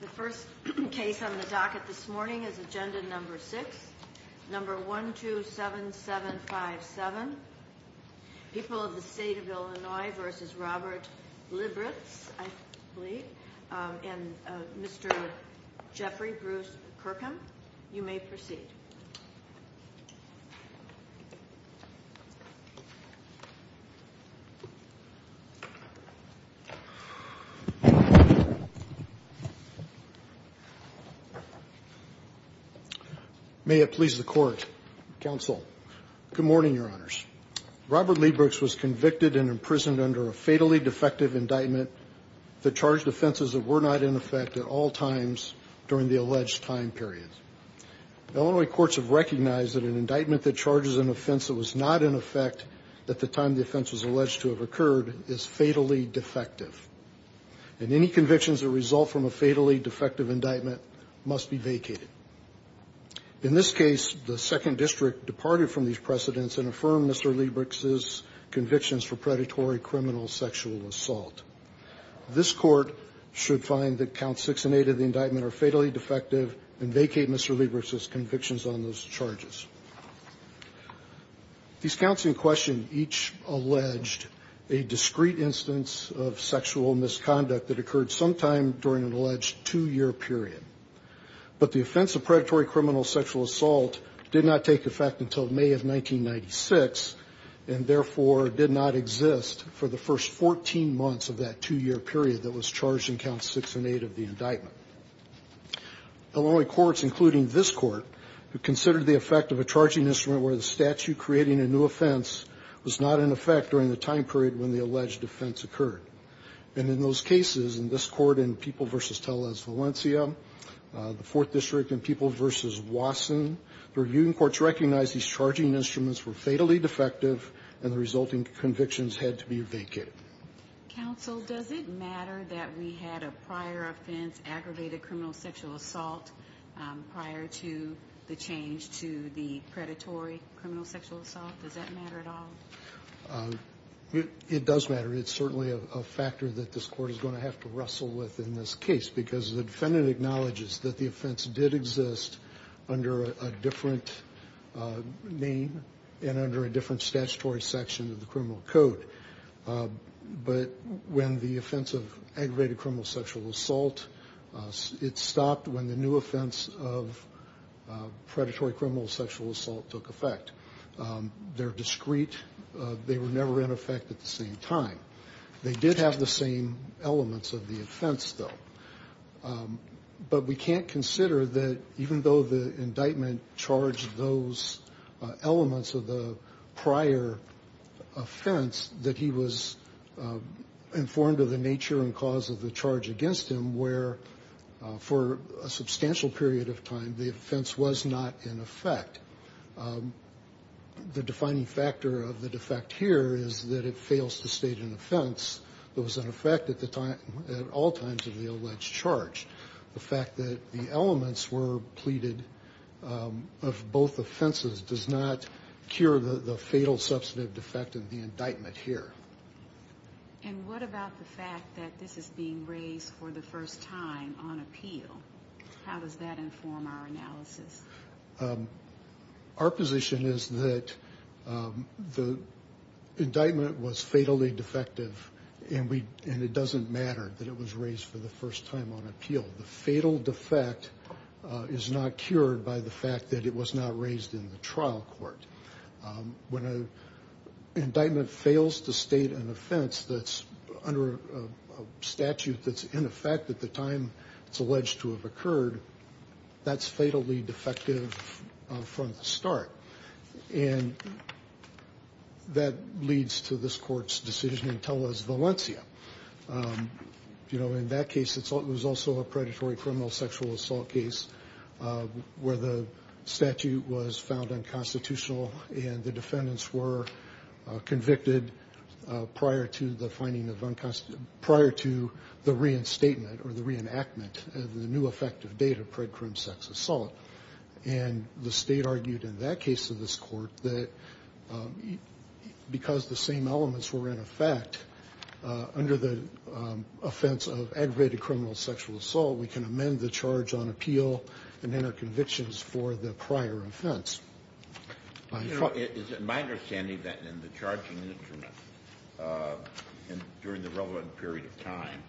The first case on the docket this morning is Agenda No. 6, No. 127757, People of the State of Illinois v. Robert Libricz, I believe, and Mr. Jeffrey Bruce Kirkham. You may proceed. May it please the Court, Counsel. Good morning, Your Honors. Robert Libricz was convicted and imprisoned under a fatally defective indictment that charged offenses that were not in effect at all times during the alleged time period. Illinois courts have recognized that an indictment that charges an offense that was not in effect at the time the offense was alleged to have occurred is fatally defective. And any convictions that result from a fatally defective indictment must be vacated. In this case, the Second District departed from these precedents and affirmed Mr. Libricz's convictions for predatory criminal sexual assault. This Court should find that Counts 6 and 8 of the indictment are fatally defective and vacate Mr. Libricz's convictions on those charges. These counts in question each alleged a discrete instance of sexual misconduct that occurred sometime during an alleged two-year period. But the offense of predatory criminal sexual assault did not take effect until May of 1996 and therefore did not exist for the first 14 months of that two-year period that was charged in Counts 6 and 8 of the indictment. Illinois courts, including this Court, who considered the effect of a charging instrument where the statute creating a new offense was not in effect during the time period when the alleged offense occurred. And in those cases, in this Court in People v. Tellez, Valencia, the Fourth District in People v. Wasson, the reviewing courts recognized these charging instruments were fatally defective and the resulting convictions had to be vacated. Counsel, does it matter that we had a prior offense, aggravated criminal sexual assault, prior to the change to the predatory criminal sexual assault? Does that matter at all? It does matter. It's certainly a factor that this Court is going to have to wrestle with in this case because the defendant acknowledges that the offense did exist under a different name and under a different statutory section of the criminal code. But when the offense of aggravated criminal sexual assault, it stopped when the new offense of predatory criminal sexual assault took effect. They're discrete. They were never in effect at the same time. They did have the same elements of the offense, though. But we can't consider that even though the indictment charged those elements of the prior offense, that he was informed of the nature and cause of the charge against him where, for a substantial period of time, the offense was not in effect. The defining factor of the defect here is that it fails to state an offense that was in effect at all times of the alleged charge. The fact that the elements were pleaded of both offenses does not cure the fatal substantive defect of the indictment here. And what about the fact that this is being raised for the first time on appeal? How does that inform our analysis? Our position is that the indictment was fatally defective, and it doesn't matter that it was raised for the first time on appeal. The fatal defect is not cured by the fact that it was not raised in the trial court. When an indictment fails to state an offense that's under a statute that's in effect at the time it's alleged to have occurred, that's fatally defective from the start. And that leads to this court's decision in Tellez, Valencia. In that case, it was also a predatory criminal sexual assault case where the statute was found unconstitutional, and the defendants were convicted prior to the reinstatement or the reenactment of the new effective date of predatory sex assault. And the state argued in that case of this court that because the same elements were in effect under the offense of aggravated criminal sexual assault, we can amend the charge on appeal and enter convictions for the prior offense. Is it my understanding that in the charging instrument during the relevant period of time,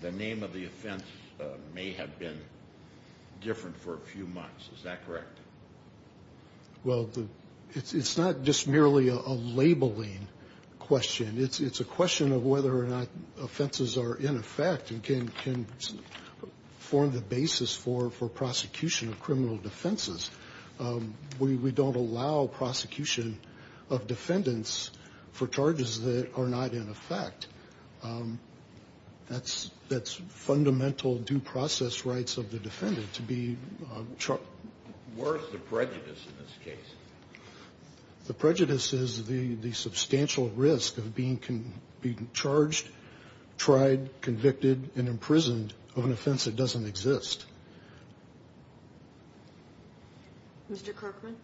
the name of the offense may have been different for a few months. Is that correct? Well, it's not just merely a labeling question. It's a question of whether or not offenses are in effect and can form the basis for prosecution of criminal defenses. We don't allow prosecution of defendants for charges that are not in effect. That's fundamental due process rights of the defendant to be charged. Where is the prejudice in this case? The prejudice is the substantial risk of being charged, tried, convicted, and imprisoned of an offense that doesn't exist. Mr. Kirkman,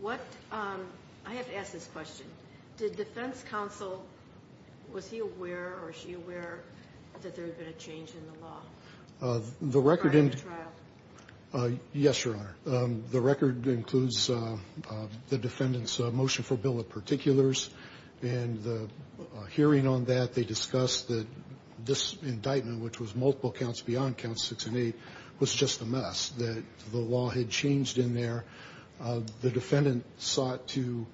what – I have to ask this question. Did defense counsel – was he aware or she aware that there had been a change in the law prior to the trial? The record – yes, Your Honor. The record includes the defendant's motion for bill of particulars. And the hearing on that, they discussed that this indictment, which was multiple counts beyond counts six and eight, was just a mess, that the law had changed in there. The defendant sought to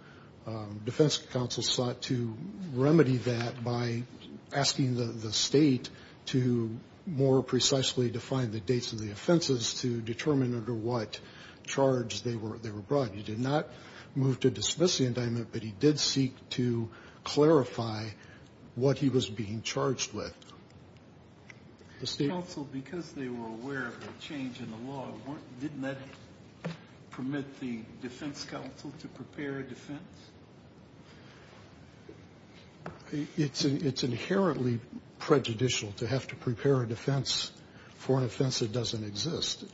– defense counsel sought to remedy that by asking the state to more precisely define the dates of the offenses to determine under what charge they were brought. He did not move to dismiss the indictment, but he did seek to clarify what he was being charged with. Counsel, because they were aware of the change in the law, didn't that permit the defense counsel to prepare a defense? It's inherently prejudicial to have to prepare a defense for an offense that doesn't exist.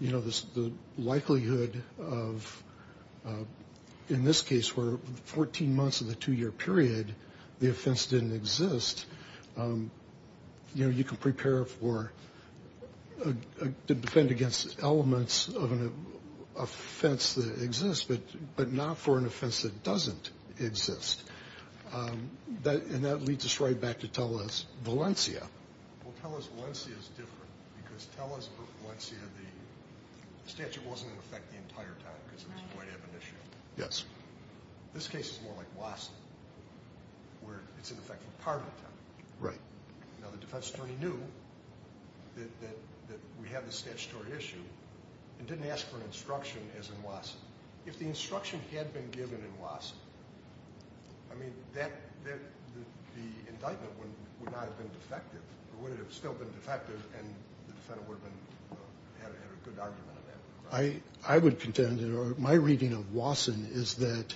You know, the likelihood of – in this case, for 14 months of the two-year period, the offense didn't exist. You know, you can prepare for – defend against elements of an offense that exists, but not for an offense that doesn't exist. And that leads us right back to Tellus Valencia. Well, Tellus Valencia is different because Tellus Valencia, the statute wasn't in effect the entire time because it was quite ab initio. Yes. This case is more like Wasson, where it's in effect for part of the time. Right. Now, the defense attorney knew that we had this statutory issue and didn't ask for instruction as in Wasson. If the instruction had been given in Wasson, I mean, the indictment would not have been defective. It would have still been defective, and the defendant would have had a good argument on that. I would contend that my reading of Wasson is that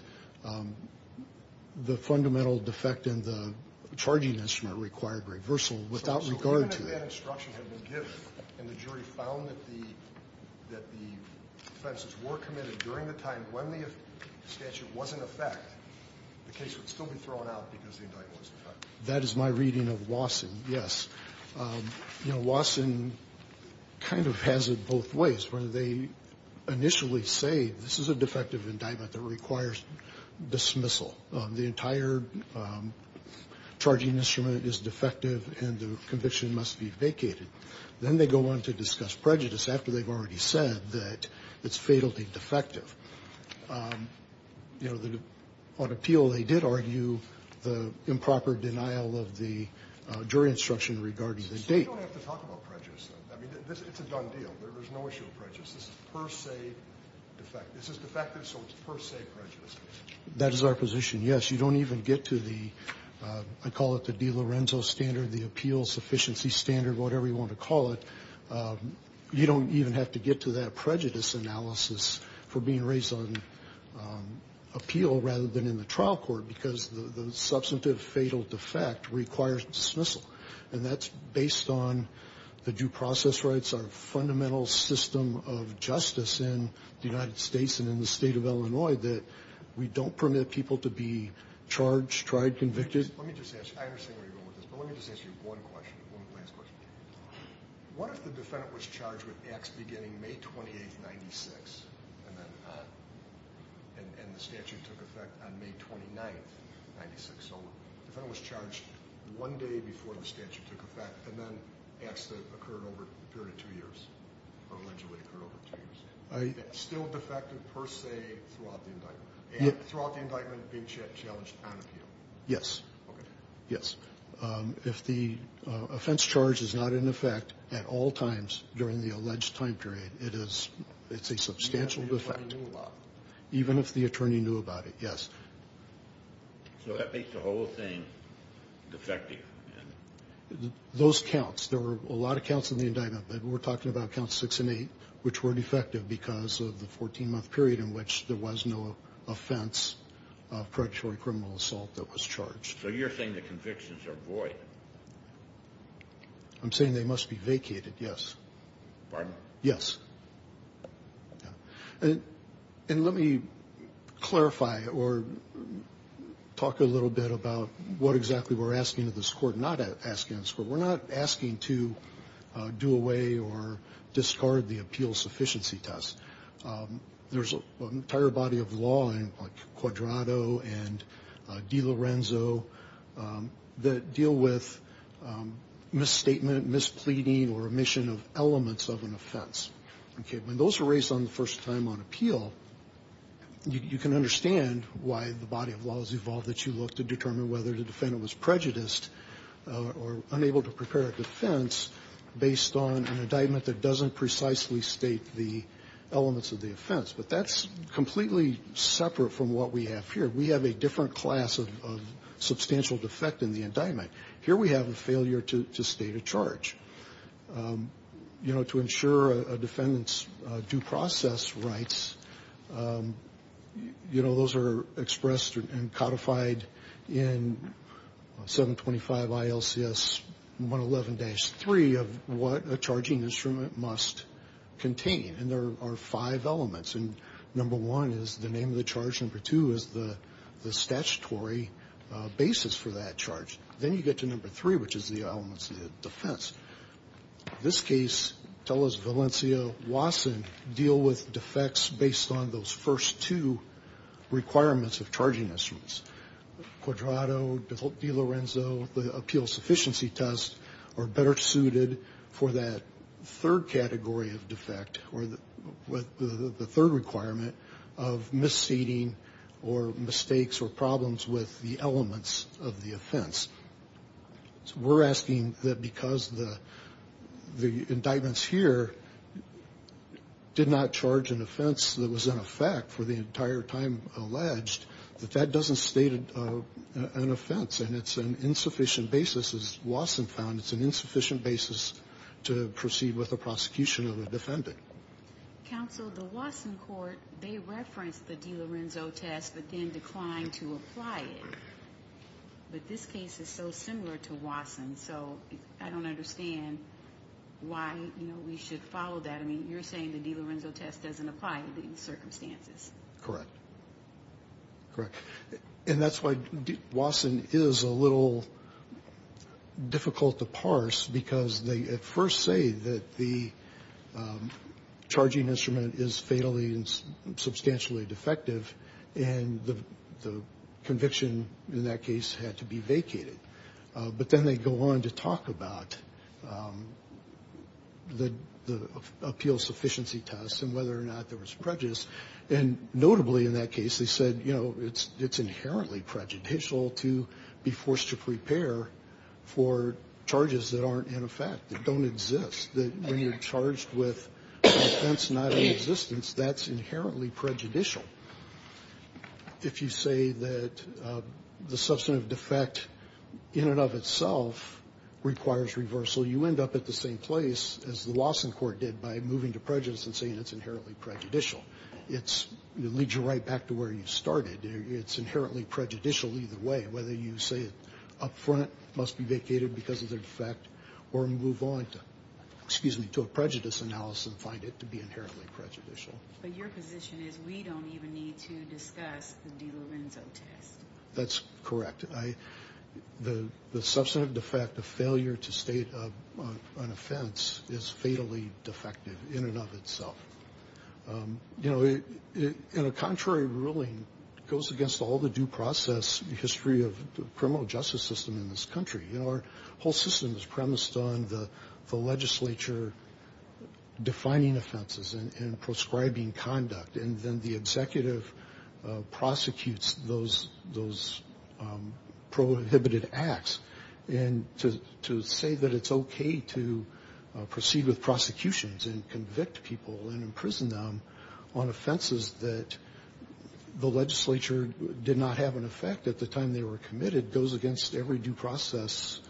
the fundamental defect in the charging instrument required reversal without regard to that. If the instruction had been given and the jury found that the offenses were committed during the time when the statute was in effect, the case would still be thrown out because the indictment was in effect. That is my reading of Wasson, yes. You know, Wasson kind of has it both ways, where they initially say this is a defective indictment that requires dismissal. The entire charging instrument is defective, and the conviction must be vacated. Then they go on to discuss prejudice after they've already said that it's fatally defective. You know, on appeal, they did argue the improper denial of the jury instruction regarding the date. You don't have to talk about prejudice, though. I mean, it's a done deal. There is no issue of prejudice. This is per se defective. This is defective, so it's per se prejudice. That is our position, yes. You don't even get to the, I call it the De Lorenzo standard, the appeals efficiency standard, whatever you want to call it. You don't even have to get to that prejudice analysis for being raised on appeal rather than in the trial court because the substantive fatal defect requires dismissal. And that's based on the due process rights, our fundamental system of justice in the United States and in the state of Illinois that we don't permit people to be charged, tried, convicted. Let me just ask, I understand where you're going with this, but let me just ask you one question, one last question. What if the defendant was charged with acts beginning May 28, 1996, and the statute took effect on May 29, 1996? So the defendant was charged one day before the statute took effect, and then acts that occurred over a period of two years or allegedly occurred over two years. Still defective per se throughout the indictment, and throughout the indictment being challenged on appeal? Yes. Okay. Yes. If the offense charge is not in effect at all times during the alleged time period, it's a substantial defect. Even if the attorney knew about it? Even if the attorney knew about it, yes. So that makes the whole thing defective? Those counts, there were a lot of counts in the indictment. We're talking about counts 6 and 8, which were defective because of the 14-month period in which there was no offense of predatory criminal assault that was charged. So you're saying the convictions are void? I'm saying they must be vacated, yes. Pardon? Yes. And let me clarify or talk a little bit about what exactly we're asking of this Court, not asking of this Court. We're not asking to do away or discard the appeal sufficiency test. There's an entire body of law in, like, Quadrato and DiLorenzo that deal with misstatement, mispleading, or omission of elements of an offense. Okay. When those were raised on the first time on appeal, you can understand why the body of law has evolved that you look to determine whether the defendant was prejudiced or unable to prepare a defense based on an indictment that doesn't precisely state the elements of the offense. But that's completely separate from what we have here. We have a different class of substantial defect in the indictment. Here we have a failure to state a charge. You know, to ensure a defendant's due process rights, you know, those are expressed and codified in 725 ILCS 111-3 of what a charging instrument must contain. And there are five elements. And number one is the name of the charge. Number two is the statutory basis for that charge. Then you get to number three, which is the elements of the defense. In this case, Tellus, Valencia, Wasson deal with defects based on those first two requirements of charging instruments. We're asking that because the indictments here did not charge an offense that was in effect for the entire time alleged that that doesn't state the elements of the offense. And it's an insufficient basis. As Wasson found, it's an insufficient basis to proceed with a prosecution of a defendant. Counsel, the Wasson court, they referenced the DiLorenzo test, but then declined to apply it. But this case is so similar to Wasson. So I don't understand why we should follow that. I mean, you're saying the DiLorenzo test doesn't apply in these circumstances. Correct. Correct. And that's why Wasson is a little difficult to parse, because they at first say that the charging instrument is fatally and substantially defective. And the conviction in that case had to be vacated. But then they go on to talk about the appeals sufficiency test and whether or not there was prejudice. And notably in that case, they said, you know, it's inherently prejudicial to be forced to prepare for charges that aren't in effect, that don't exist, that when you're charged with an offense not in existence, that's inherently prejudicial. If you say that the substantive defect in and of itself requires reversal, you end up at the same place as the Wasson court did by moving to prejudice and saying it's inherently prejudicial. It leads you right back to where you started. It's inherently prejudicial either way, whether you say it up front must be vacated because of their defect or move on to a prejudice analysis and find it to be inherently prejudicial. But your position is we don't even need to discuss the DiLorenzo test. That's correct. The substantive defect of failure to state an offense is fatally defective in and of itself. You know, in a contrary ruling, it goes against all the due process history of the criminal justice system in this country. You know, our whole system is premised on the legislature defining offenses and prescribing conduct. And then the executive prosecutes those prohibited acts. And to say that it's okay to proceed with prosecutions and convict people and imprison them on offenses that the legislature did not have an effect at the time they were committed goes against every due process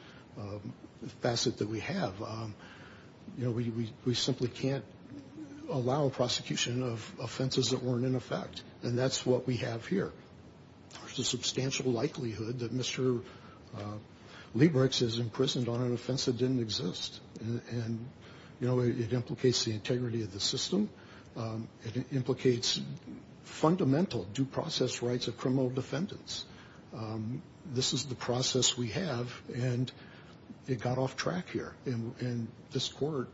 facet that we have. You know, we simply can't allow a prosecution of offenses that weren't in effect. And that's what we have here. There's a substantial likelihood that Mr. Liebrecht is imprisoned on an offense that didn't exist. And, you know, it implicates the integrity of the system. It implicates fundamental due process rights of criminal defendants. This is the process we have. And it got off track here. And this court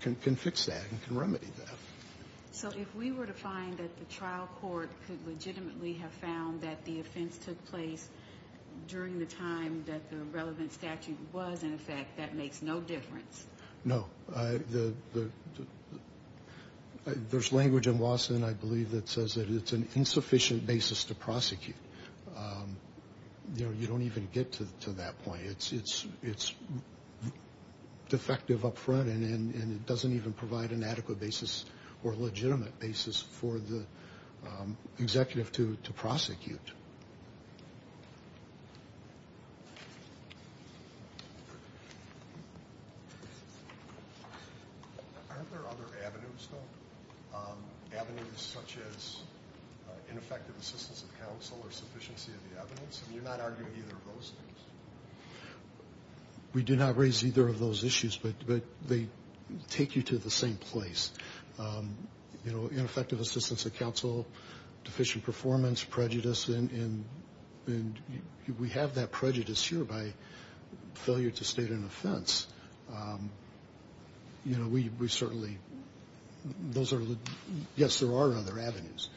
can fix that and can remedy that. So if we were to find that the trial court could legitimately have found that the offense took place during the time that the relevant statute was in effect, that makes no difference? No. There's language in Lawson, I believe, that says that it's an insufficient basis to prosecute. You know, you don't even get to that point. It's defective up front, and it doesn't even provide an adequate basis or legitimate basis for the executive to prosecute. Aren't there other avenues, though, avenues such as ineffective assistance of counsel or sufficiency of the evidence? I mean, you're not arguing either of those things. We do not raise either of those issues, but they take you to the same place. You know, ineffective assistance of counsel, deficient performance, prejudice, and we have that prejudice here by failure to state an offense. You know, we certainly – those are – yes, there are other avenues.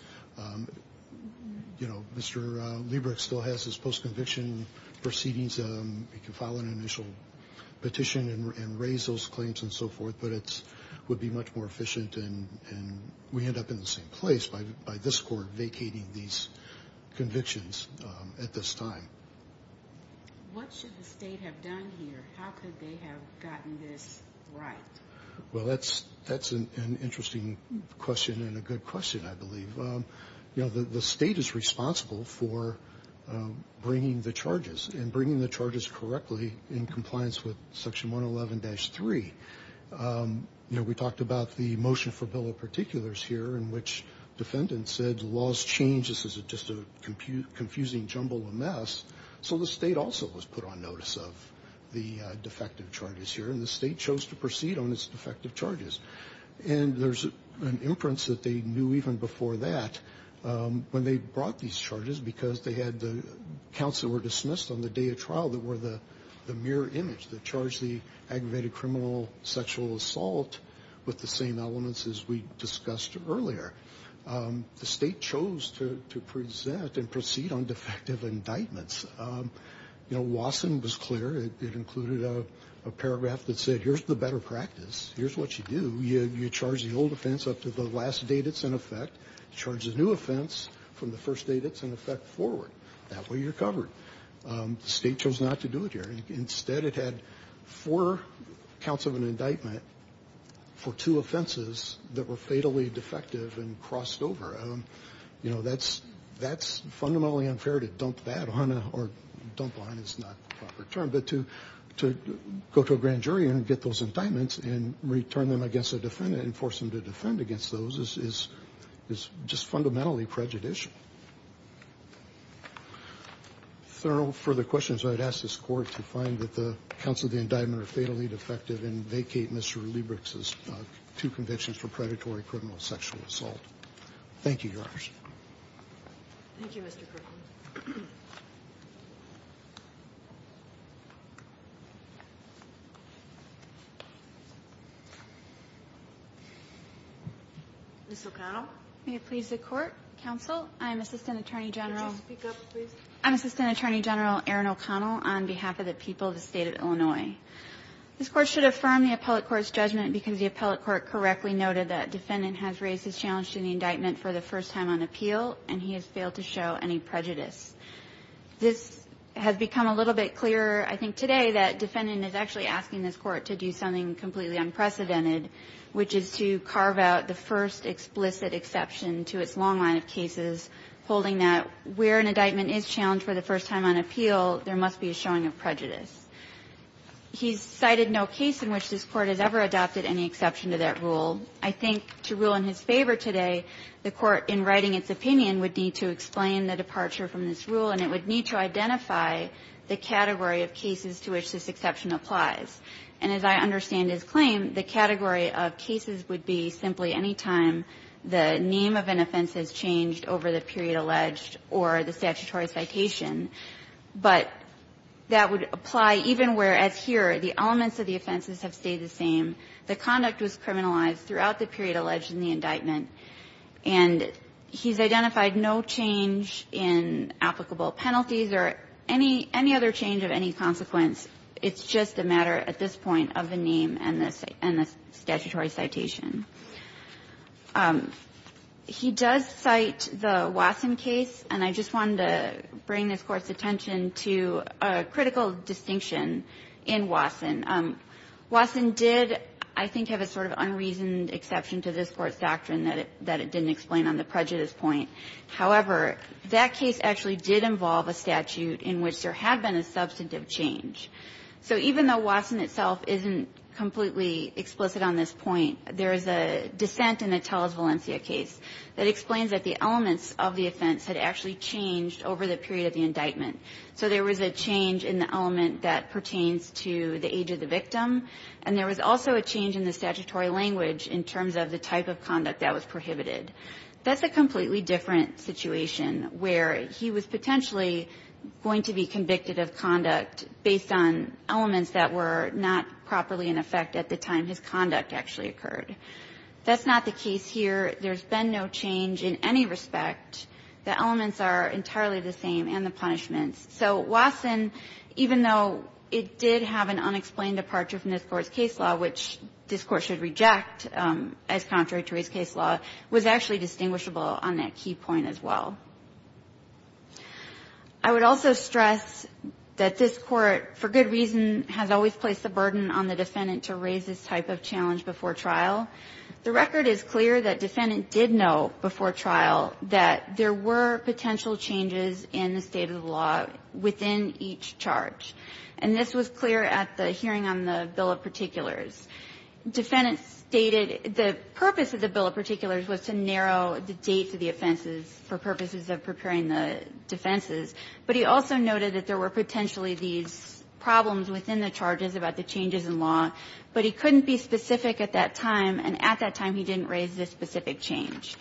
You know, Mr. Liebrecht still has his post-conviction proceedings. He can file an initial petition and raise those claims and so forth, but it would be much more efficient, and we end up in the same place by this court vacating these convictions at this time. What should the state have done here? How could they have gotten this right? Well, that's an interesting question and a good question, I believe. You know, the state is responsible for bringing the charges and bringing the charges correctly in compliance with Section 111-3. You know, we talked about the motion for bill of particulars here in which defendants said laws change. This is just a confusing jumble, a mess. So the state also was put on notice of the defective charges here, and the state chose to proceed on its defective charges. And there's an inference that they knew even before that when they brought these charges because they had the counts that were dismissed on the day of trial that were the mirror image, that charged the aggravated criminal sexual assault with the same elements as we discussed earlier. The state chose to present and proceed on defective indictments. You know, Wasson was clear. It included a paragraph that said here's the better practice. Here's what you do. You charge the old offense up to the last date it's in effect. You charge the new offense from the first date it's in effect forward. That way you're covered. The state chose not to do it here. Instead, it had four counts of an indictment for two offenses that were fatally defective and crossed over. You know, that's fundamentally unfair to dump that on or dump on is not the proper term. But to go to a grand jury and get those indictments and return them against a defendant and force them to defend against those is just fundamentally prejudicial. If there are no further questions, I would ask this Court to find that the counts of the indictment are fatally defective and vacate Mr. Liebrich's two convictions for predatory criminal sexual assault. Thank you, Your Honors. Ms. O'Connell. May it please the Court. Counsel, I'm Assistant Attorney General. Could you speak up, please? I'm Assistant Attorney General Erin O'Connell on behalf of the people of the State of Illinois. This Court should affirm the appellate court's judgment because the appellate court correctly noted that defendant has raised his challenge to the indictment for the first time on appeal, and he has failed to show any prejudice. This has become a little bit clearer, I think, today that defendant is actually asking this Court to do something completely unprecedented, which is to carve out the first explicit exception to its long line of cases, holding that where an indictment is challenged for the first time on appeal, there must be a showing of prejudice. He's cited no case in which this Court has ever adopted any exception to that rule. I think to rule in his favor today, the Court, in writing its opinion, would need to explain the departure from this rule, and it would need to identify the category of cases to which this exception applies. And as I understand his claim, the category of cases would be simply any time the name of an offense has changed over the period alleged or the statutory citation, but that would apply even where, as here, the elements of the offenses have stayed the same. The conduct was criminalized throughout the period alleged in the indictment, and he's identified no change in applicable penalties or any other change of any consequence. It's just a matter, at this point, of the name and the statutory citation. He does cite the Wasson case, and I just wanted to bring this Court's attention to a critical distinction in Wasson. Wasson did, I think, have a sort of unreasoned exception to this Court's doctrine that it didn't explain on the prejudice point. However, that case actually did involve a statute in which there had been a substantive change. So even though Wasson itself isn't completely explicit on this point, there is a dissent in the Tellers-Valencia case that explains that the elements of the offense had actually changed over the period of the indictment. So there was a change in the element that pertains to the age of the victim, and there was also a change in the statutory language in terms of the type of conduct that was prohibited. That's a completely different situation where he was potentially going to be convicted of conduct based on elements that were not properly in effect at the time his conduct actually occurred. That's not the case here. There's been no change in any respect. The elements are entirely the same and the punishments. So Wasson, even though it did have an unexplained departure from this Court's case law, which this Court should reject as contrary to his case law, was actually distinguishable on that key point as well. I would also stress that this Court, for good reason, has always placed the burden on the defendant to raise this type of challenge before trial. The record is clear that defendant did know before trial that there were potential changes in the state of the law within each charge, and this was clear at the hearing on the bill of particulars. Defendant stated the purpose of the bill of particulars was to narrow the date of the offenses for purposes of preparing the defenses, but he also noted that there were specific at that time, and at that time he didn't raise this specific change.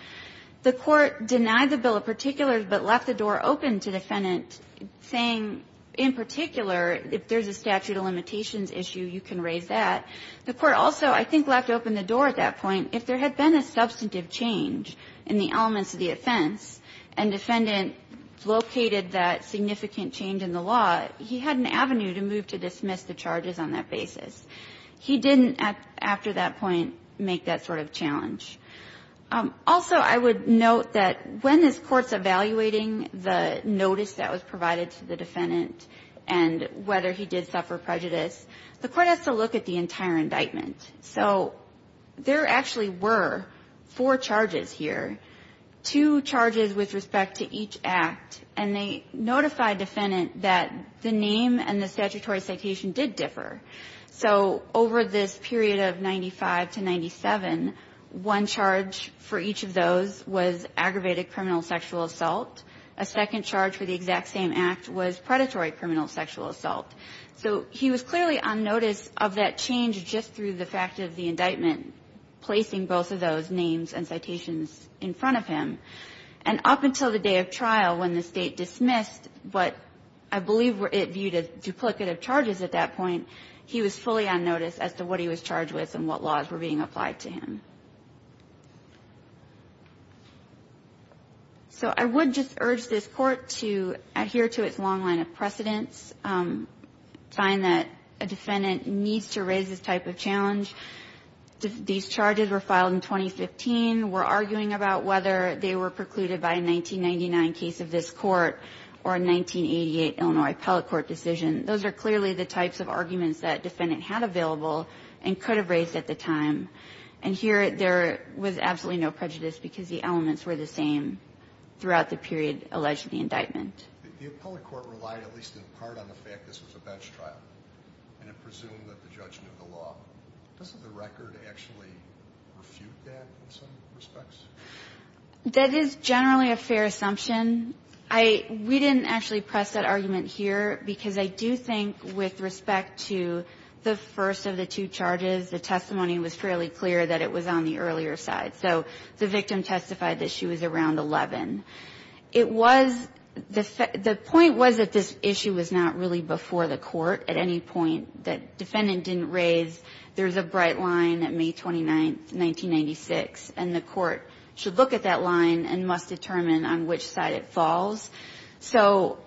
The Court denied the bill of particulars, but left the door open to defendant saying, in particular, if there's a statute of limitations issue, you can raise that. The Court also, I think, left open the door at that point. If there had been a substantive change in the elements of the offense and defendant located that significant change in the law, he had an avenue to move to dismiss the charges on that basis. He didn't, after that point, make that sort of challenge. Also, I would note that when this Court's evaluating the notice that was provided to the defendant and whether he did suffer prejudice, the Court has to look at the entire indictment. So there actually were four charges here, two charges with respect to each act, and they notified defendant that the name and the statutory citation did differ. So over this period of 95 to 97, one charge for each of those was aggravated criminal sexual assault. A second charge for the exact same act was predatory criminal sexual assault. So he was clearly on notice of that change just through the fact of the indictment placing both of those names and citations in front of him. And up until the day of trial when the State dismissed what I believe it viewed as duplicative charges at that point, he was fully on notice as to what he was charged with and what laws were being applied to him. So I would just urge this Court to adhere to its long line of precedence, find that a defendant needs to raise this type of challenge. These charges were filed in 2015. We're arguing about whether they were precluded by a 1999 case of this Court or a 1988 Illinois appellate court decision. Those are clearly the types of arguments that defendant had available and could have raised at the time. And here there was absolutely no prejudice because the elements were the same throughout the period alleged in the indictment. The appellate court relied at least in part on the fact this was a bench trial and it presumed that the judge knew the law. Does the record actually refute that in some respects? That is generally a fair assumption. I we didn't actually press that argument here because I do think with respect to the first of the two charges, the testimony was fairly clear that it was on the earlier side. So the victim testified that she was around 11. It was the point was that this issue was not really before the Court at any point that defendant didn't raise. There's a bright line at May 29th, 1996, and the Court should look at that line and must determine on which side it falls. So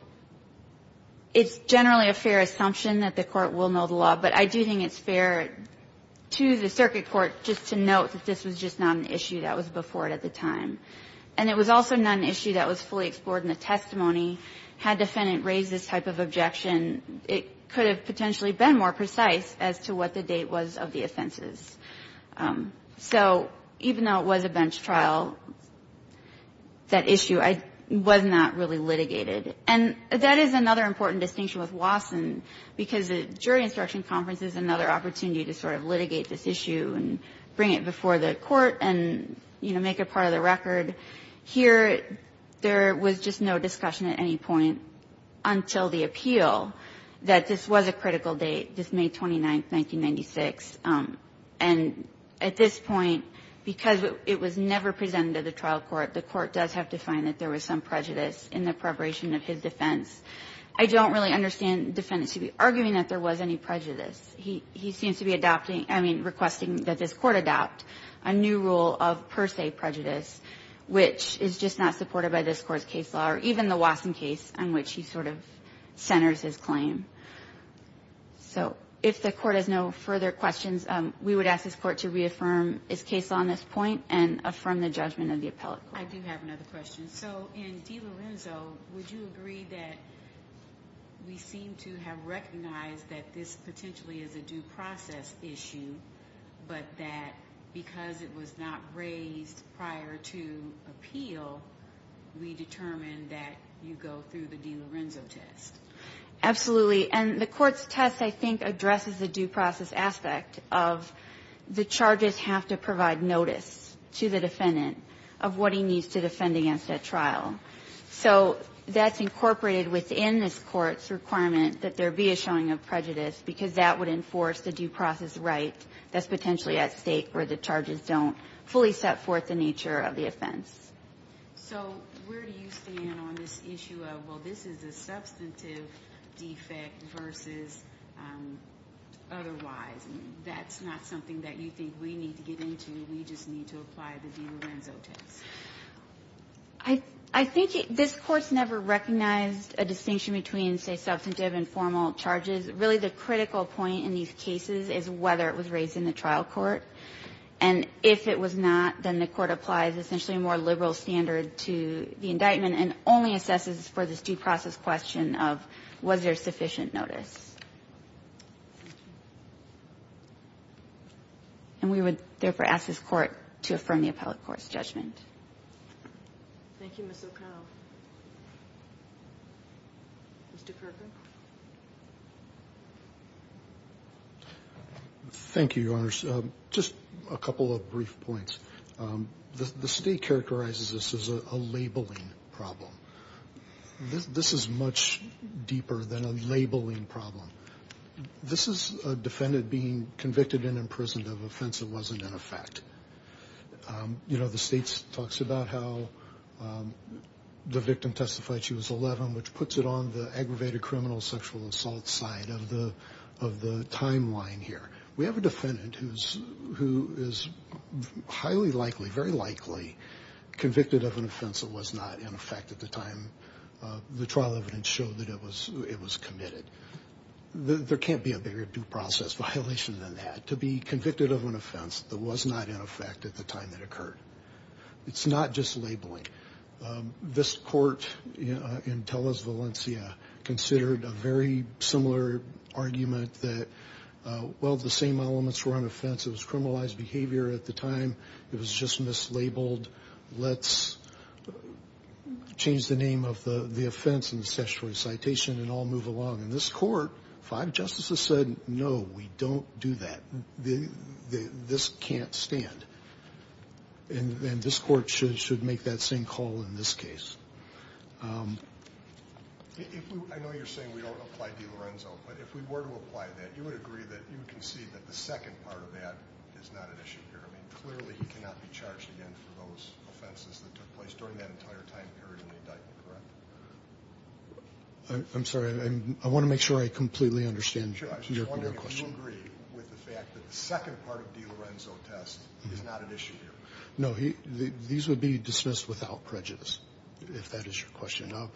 it's generally a fair assumption that the Court will know the law, but I do think it's fair to the circuit court just to note that this was just not an issue that was before it at the time. And it was also not an issue that was fully explored in the testimony. Had defendant raised this type of objection, it could have potentially been more precise as to what the date was of the offenses. So even though it was a bench trial, that issue was not really litigated. And that is another important distinction with Wasson because the jury instruction conference is another opportunity to sort of litigate this issue and bring it before the Court and, you know, make it part of the record. Here, there was just no discussion at any point until the appeal that this was a critical date, this May 29th, 1996. And at this point, because it was never presented to the trial court, the Court does have to find that there was some prejudice in the preparation of his defense. I don't really understand defendants arguing that there was any prejudice. He seems to be adopting or requesting that this Court adopt a new rule of per se prejudice which is just not supported by this Court's case law, or even the Wasson case on which he sort of centers his claim. So if the Court has no further questions, we would ask this Court to reaffirm its case law on this point and affirm the judgment of the appellate court. I do have another question. So in DiLorenzo, would you agree that we seem to have recognized that this is a case where the defendant has a right to appeal, we determine that you go through the DiLorenzo test? Absolutely. And the Court's test, I think, addresses the due process aspect of the charges have to provide notice to the defendant of what he needs to defend against that trial. So that's incorporated within this Court's requirement that there be a showing of prejudice because that would enforce the due process right that's potentially at stake where the charges don't fully set forth the nature of the offense. So where do you stand on this issue of, well, this is a substantive defect versus otherwise? That's not something that you think we need to get into. We just need to apply the DiLorenzo test. I think this Court's never recognized a distinction between, say, substantive and formal charges. And so I think it's really the critical point in these cases is whether it was raised in the trial court. And if it was not, then the Court applies essentially a more liberal standard to the indictment and only assesses for this due process question of was there sufficient notice. And we would, therefore, ask this Court to affirm the appellate court's judgment. Thank you, Ms. O'Connell. Mr. Kirkland? Thank you, Your Honors. Just a couple of brief points. The State characterizes this as a labeling problem. This is much deeper than a labeling problem. This is a defendant being convicted and imprisoned of an offense that wasn't in effect. The State talks about how the victim testified she was 11, which puts it on the aggravated criminal sexual assault side of the timeline here. We have a defendant who is highly likely, very likely convicted of an offense that was not in effect at the time the trial evidence showed that it was committed. There can't be a bigger due process violation than that. To be convicted of an offense that was not in effect at the time it occurred. It's not just labeling. This Court in Tellez, Valencia, considered a very similar argument that, well, the same elements were on offense. It was criminalized behavior at the time. It was just mislabeled. Let's change the name of the offense in the statutory citation and all move along. In this Court, five justices said, no, we don't do that. This can't stand. And this Court should make that same call in this case. I know you're saying we don't apply DiLorenzo, but if we were to apply that, you would agree that you can see that the second part of that is not an issue here. I mean, clearly he cannot be charged again for those offenses that took place during that entire time period in the indictment, correct? I'm sorry. I want to make sure I completely understand your question. I'm just wondering if you agree with the fact that the second part of DiLorenzo test is not an issue here. No. These would be dismissed without prejudice, if that is your question. No,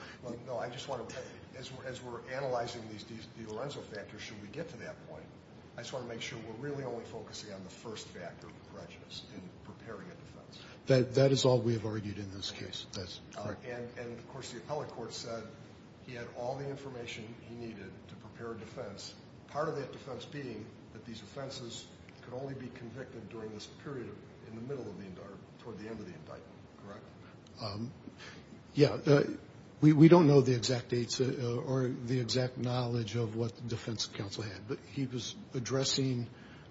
I just want to, as we're analyzing these DiLorenzo factors, should we get to that point, I just want to make sure we're really only focusing on the first factor, prejudice, in preparing a defense. That is all we have argued in this case. And, of course, the appellate court said he had all the information he needed to prepare a defense, part of that defense being that these offenses could only be convicted during this period, in the middle of the indictment, toward the end of the indictment, correct? Yeah. We don't know the exact dates or the exact knowledge of what the defense counsel had, but he was addressing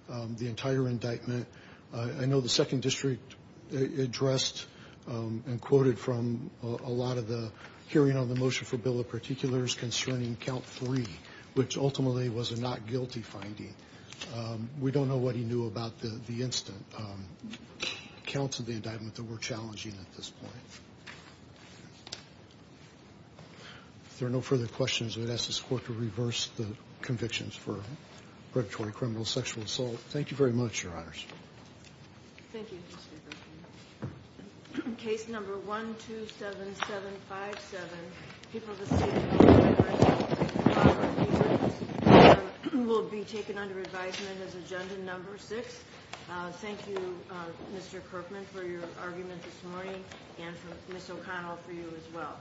the entire indictment. I know the second district addressed and quoted from a lot of the hearing on the motion for bill of particulars concerning count three, which ultimately was a not guilty finding. We don't know what he knew about the instant counts of the indictment that were challenging at this point. If there are no further questions, I would ask this Court to reverse the convictions for predatory criminal sexual assault. Thank you very much, Your Honors. Thank you, Mr. Kirkman. Case number 127757, people of the state of California, and the state of Colorado, will be taken under advisement as agenda number six. Thank you, Mr. Kirkman, for your argument this morning, and Ms. O'Connell for you as well.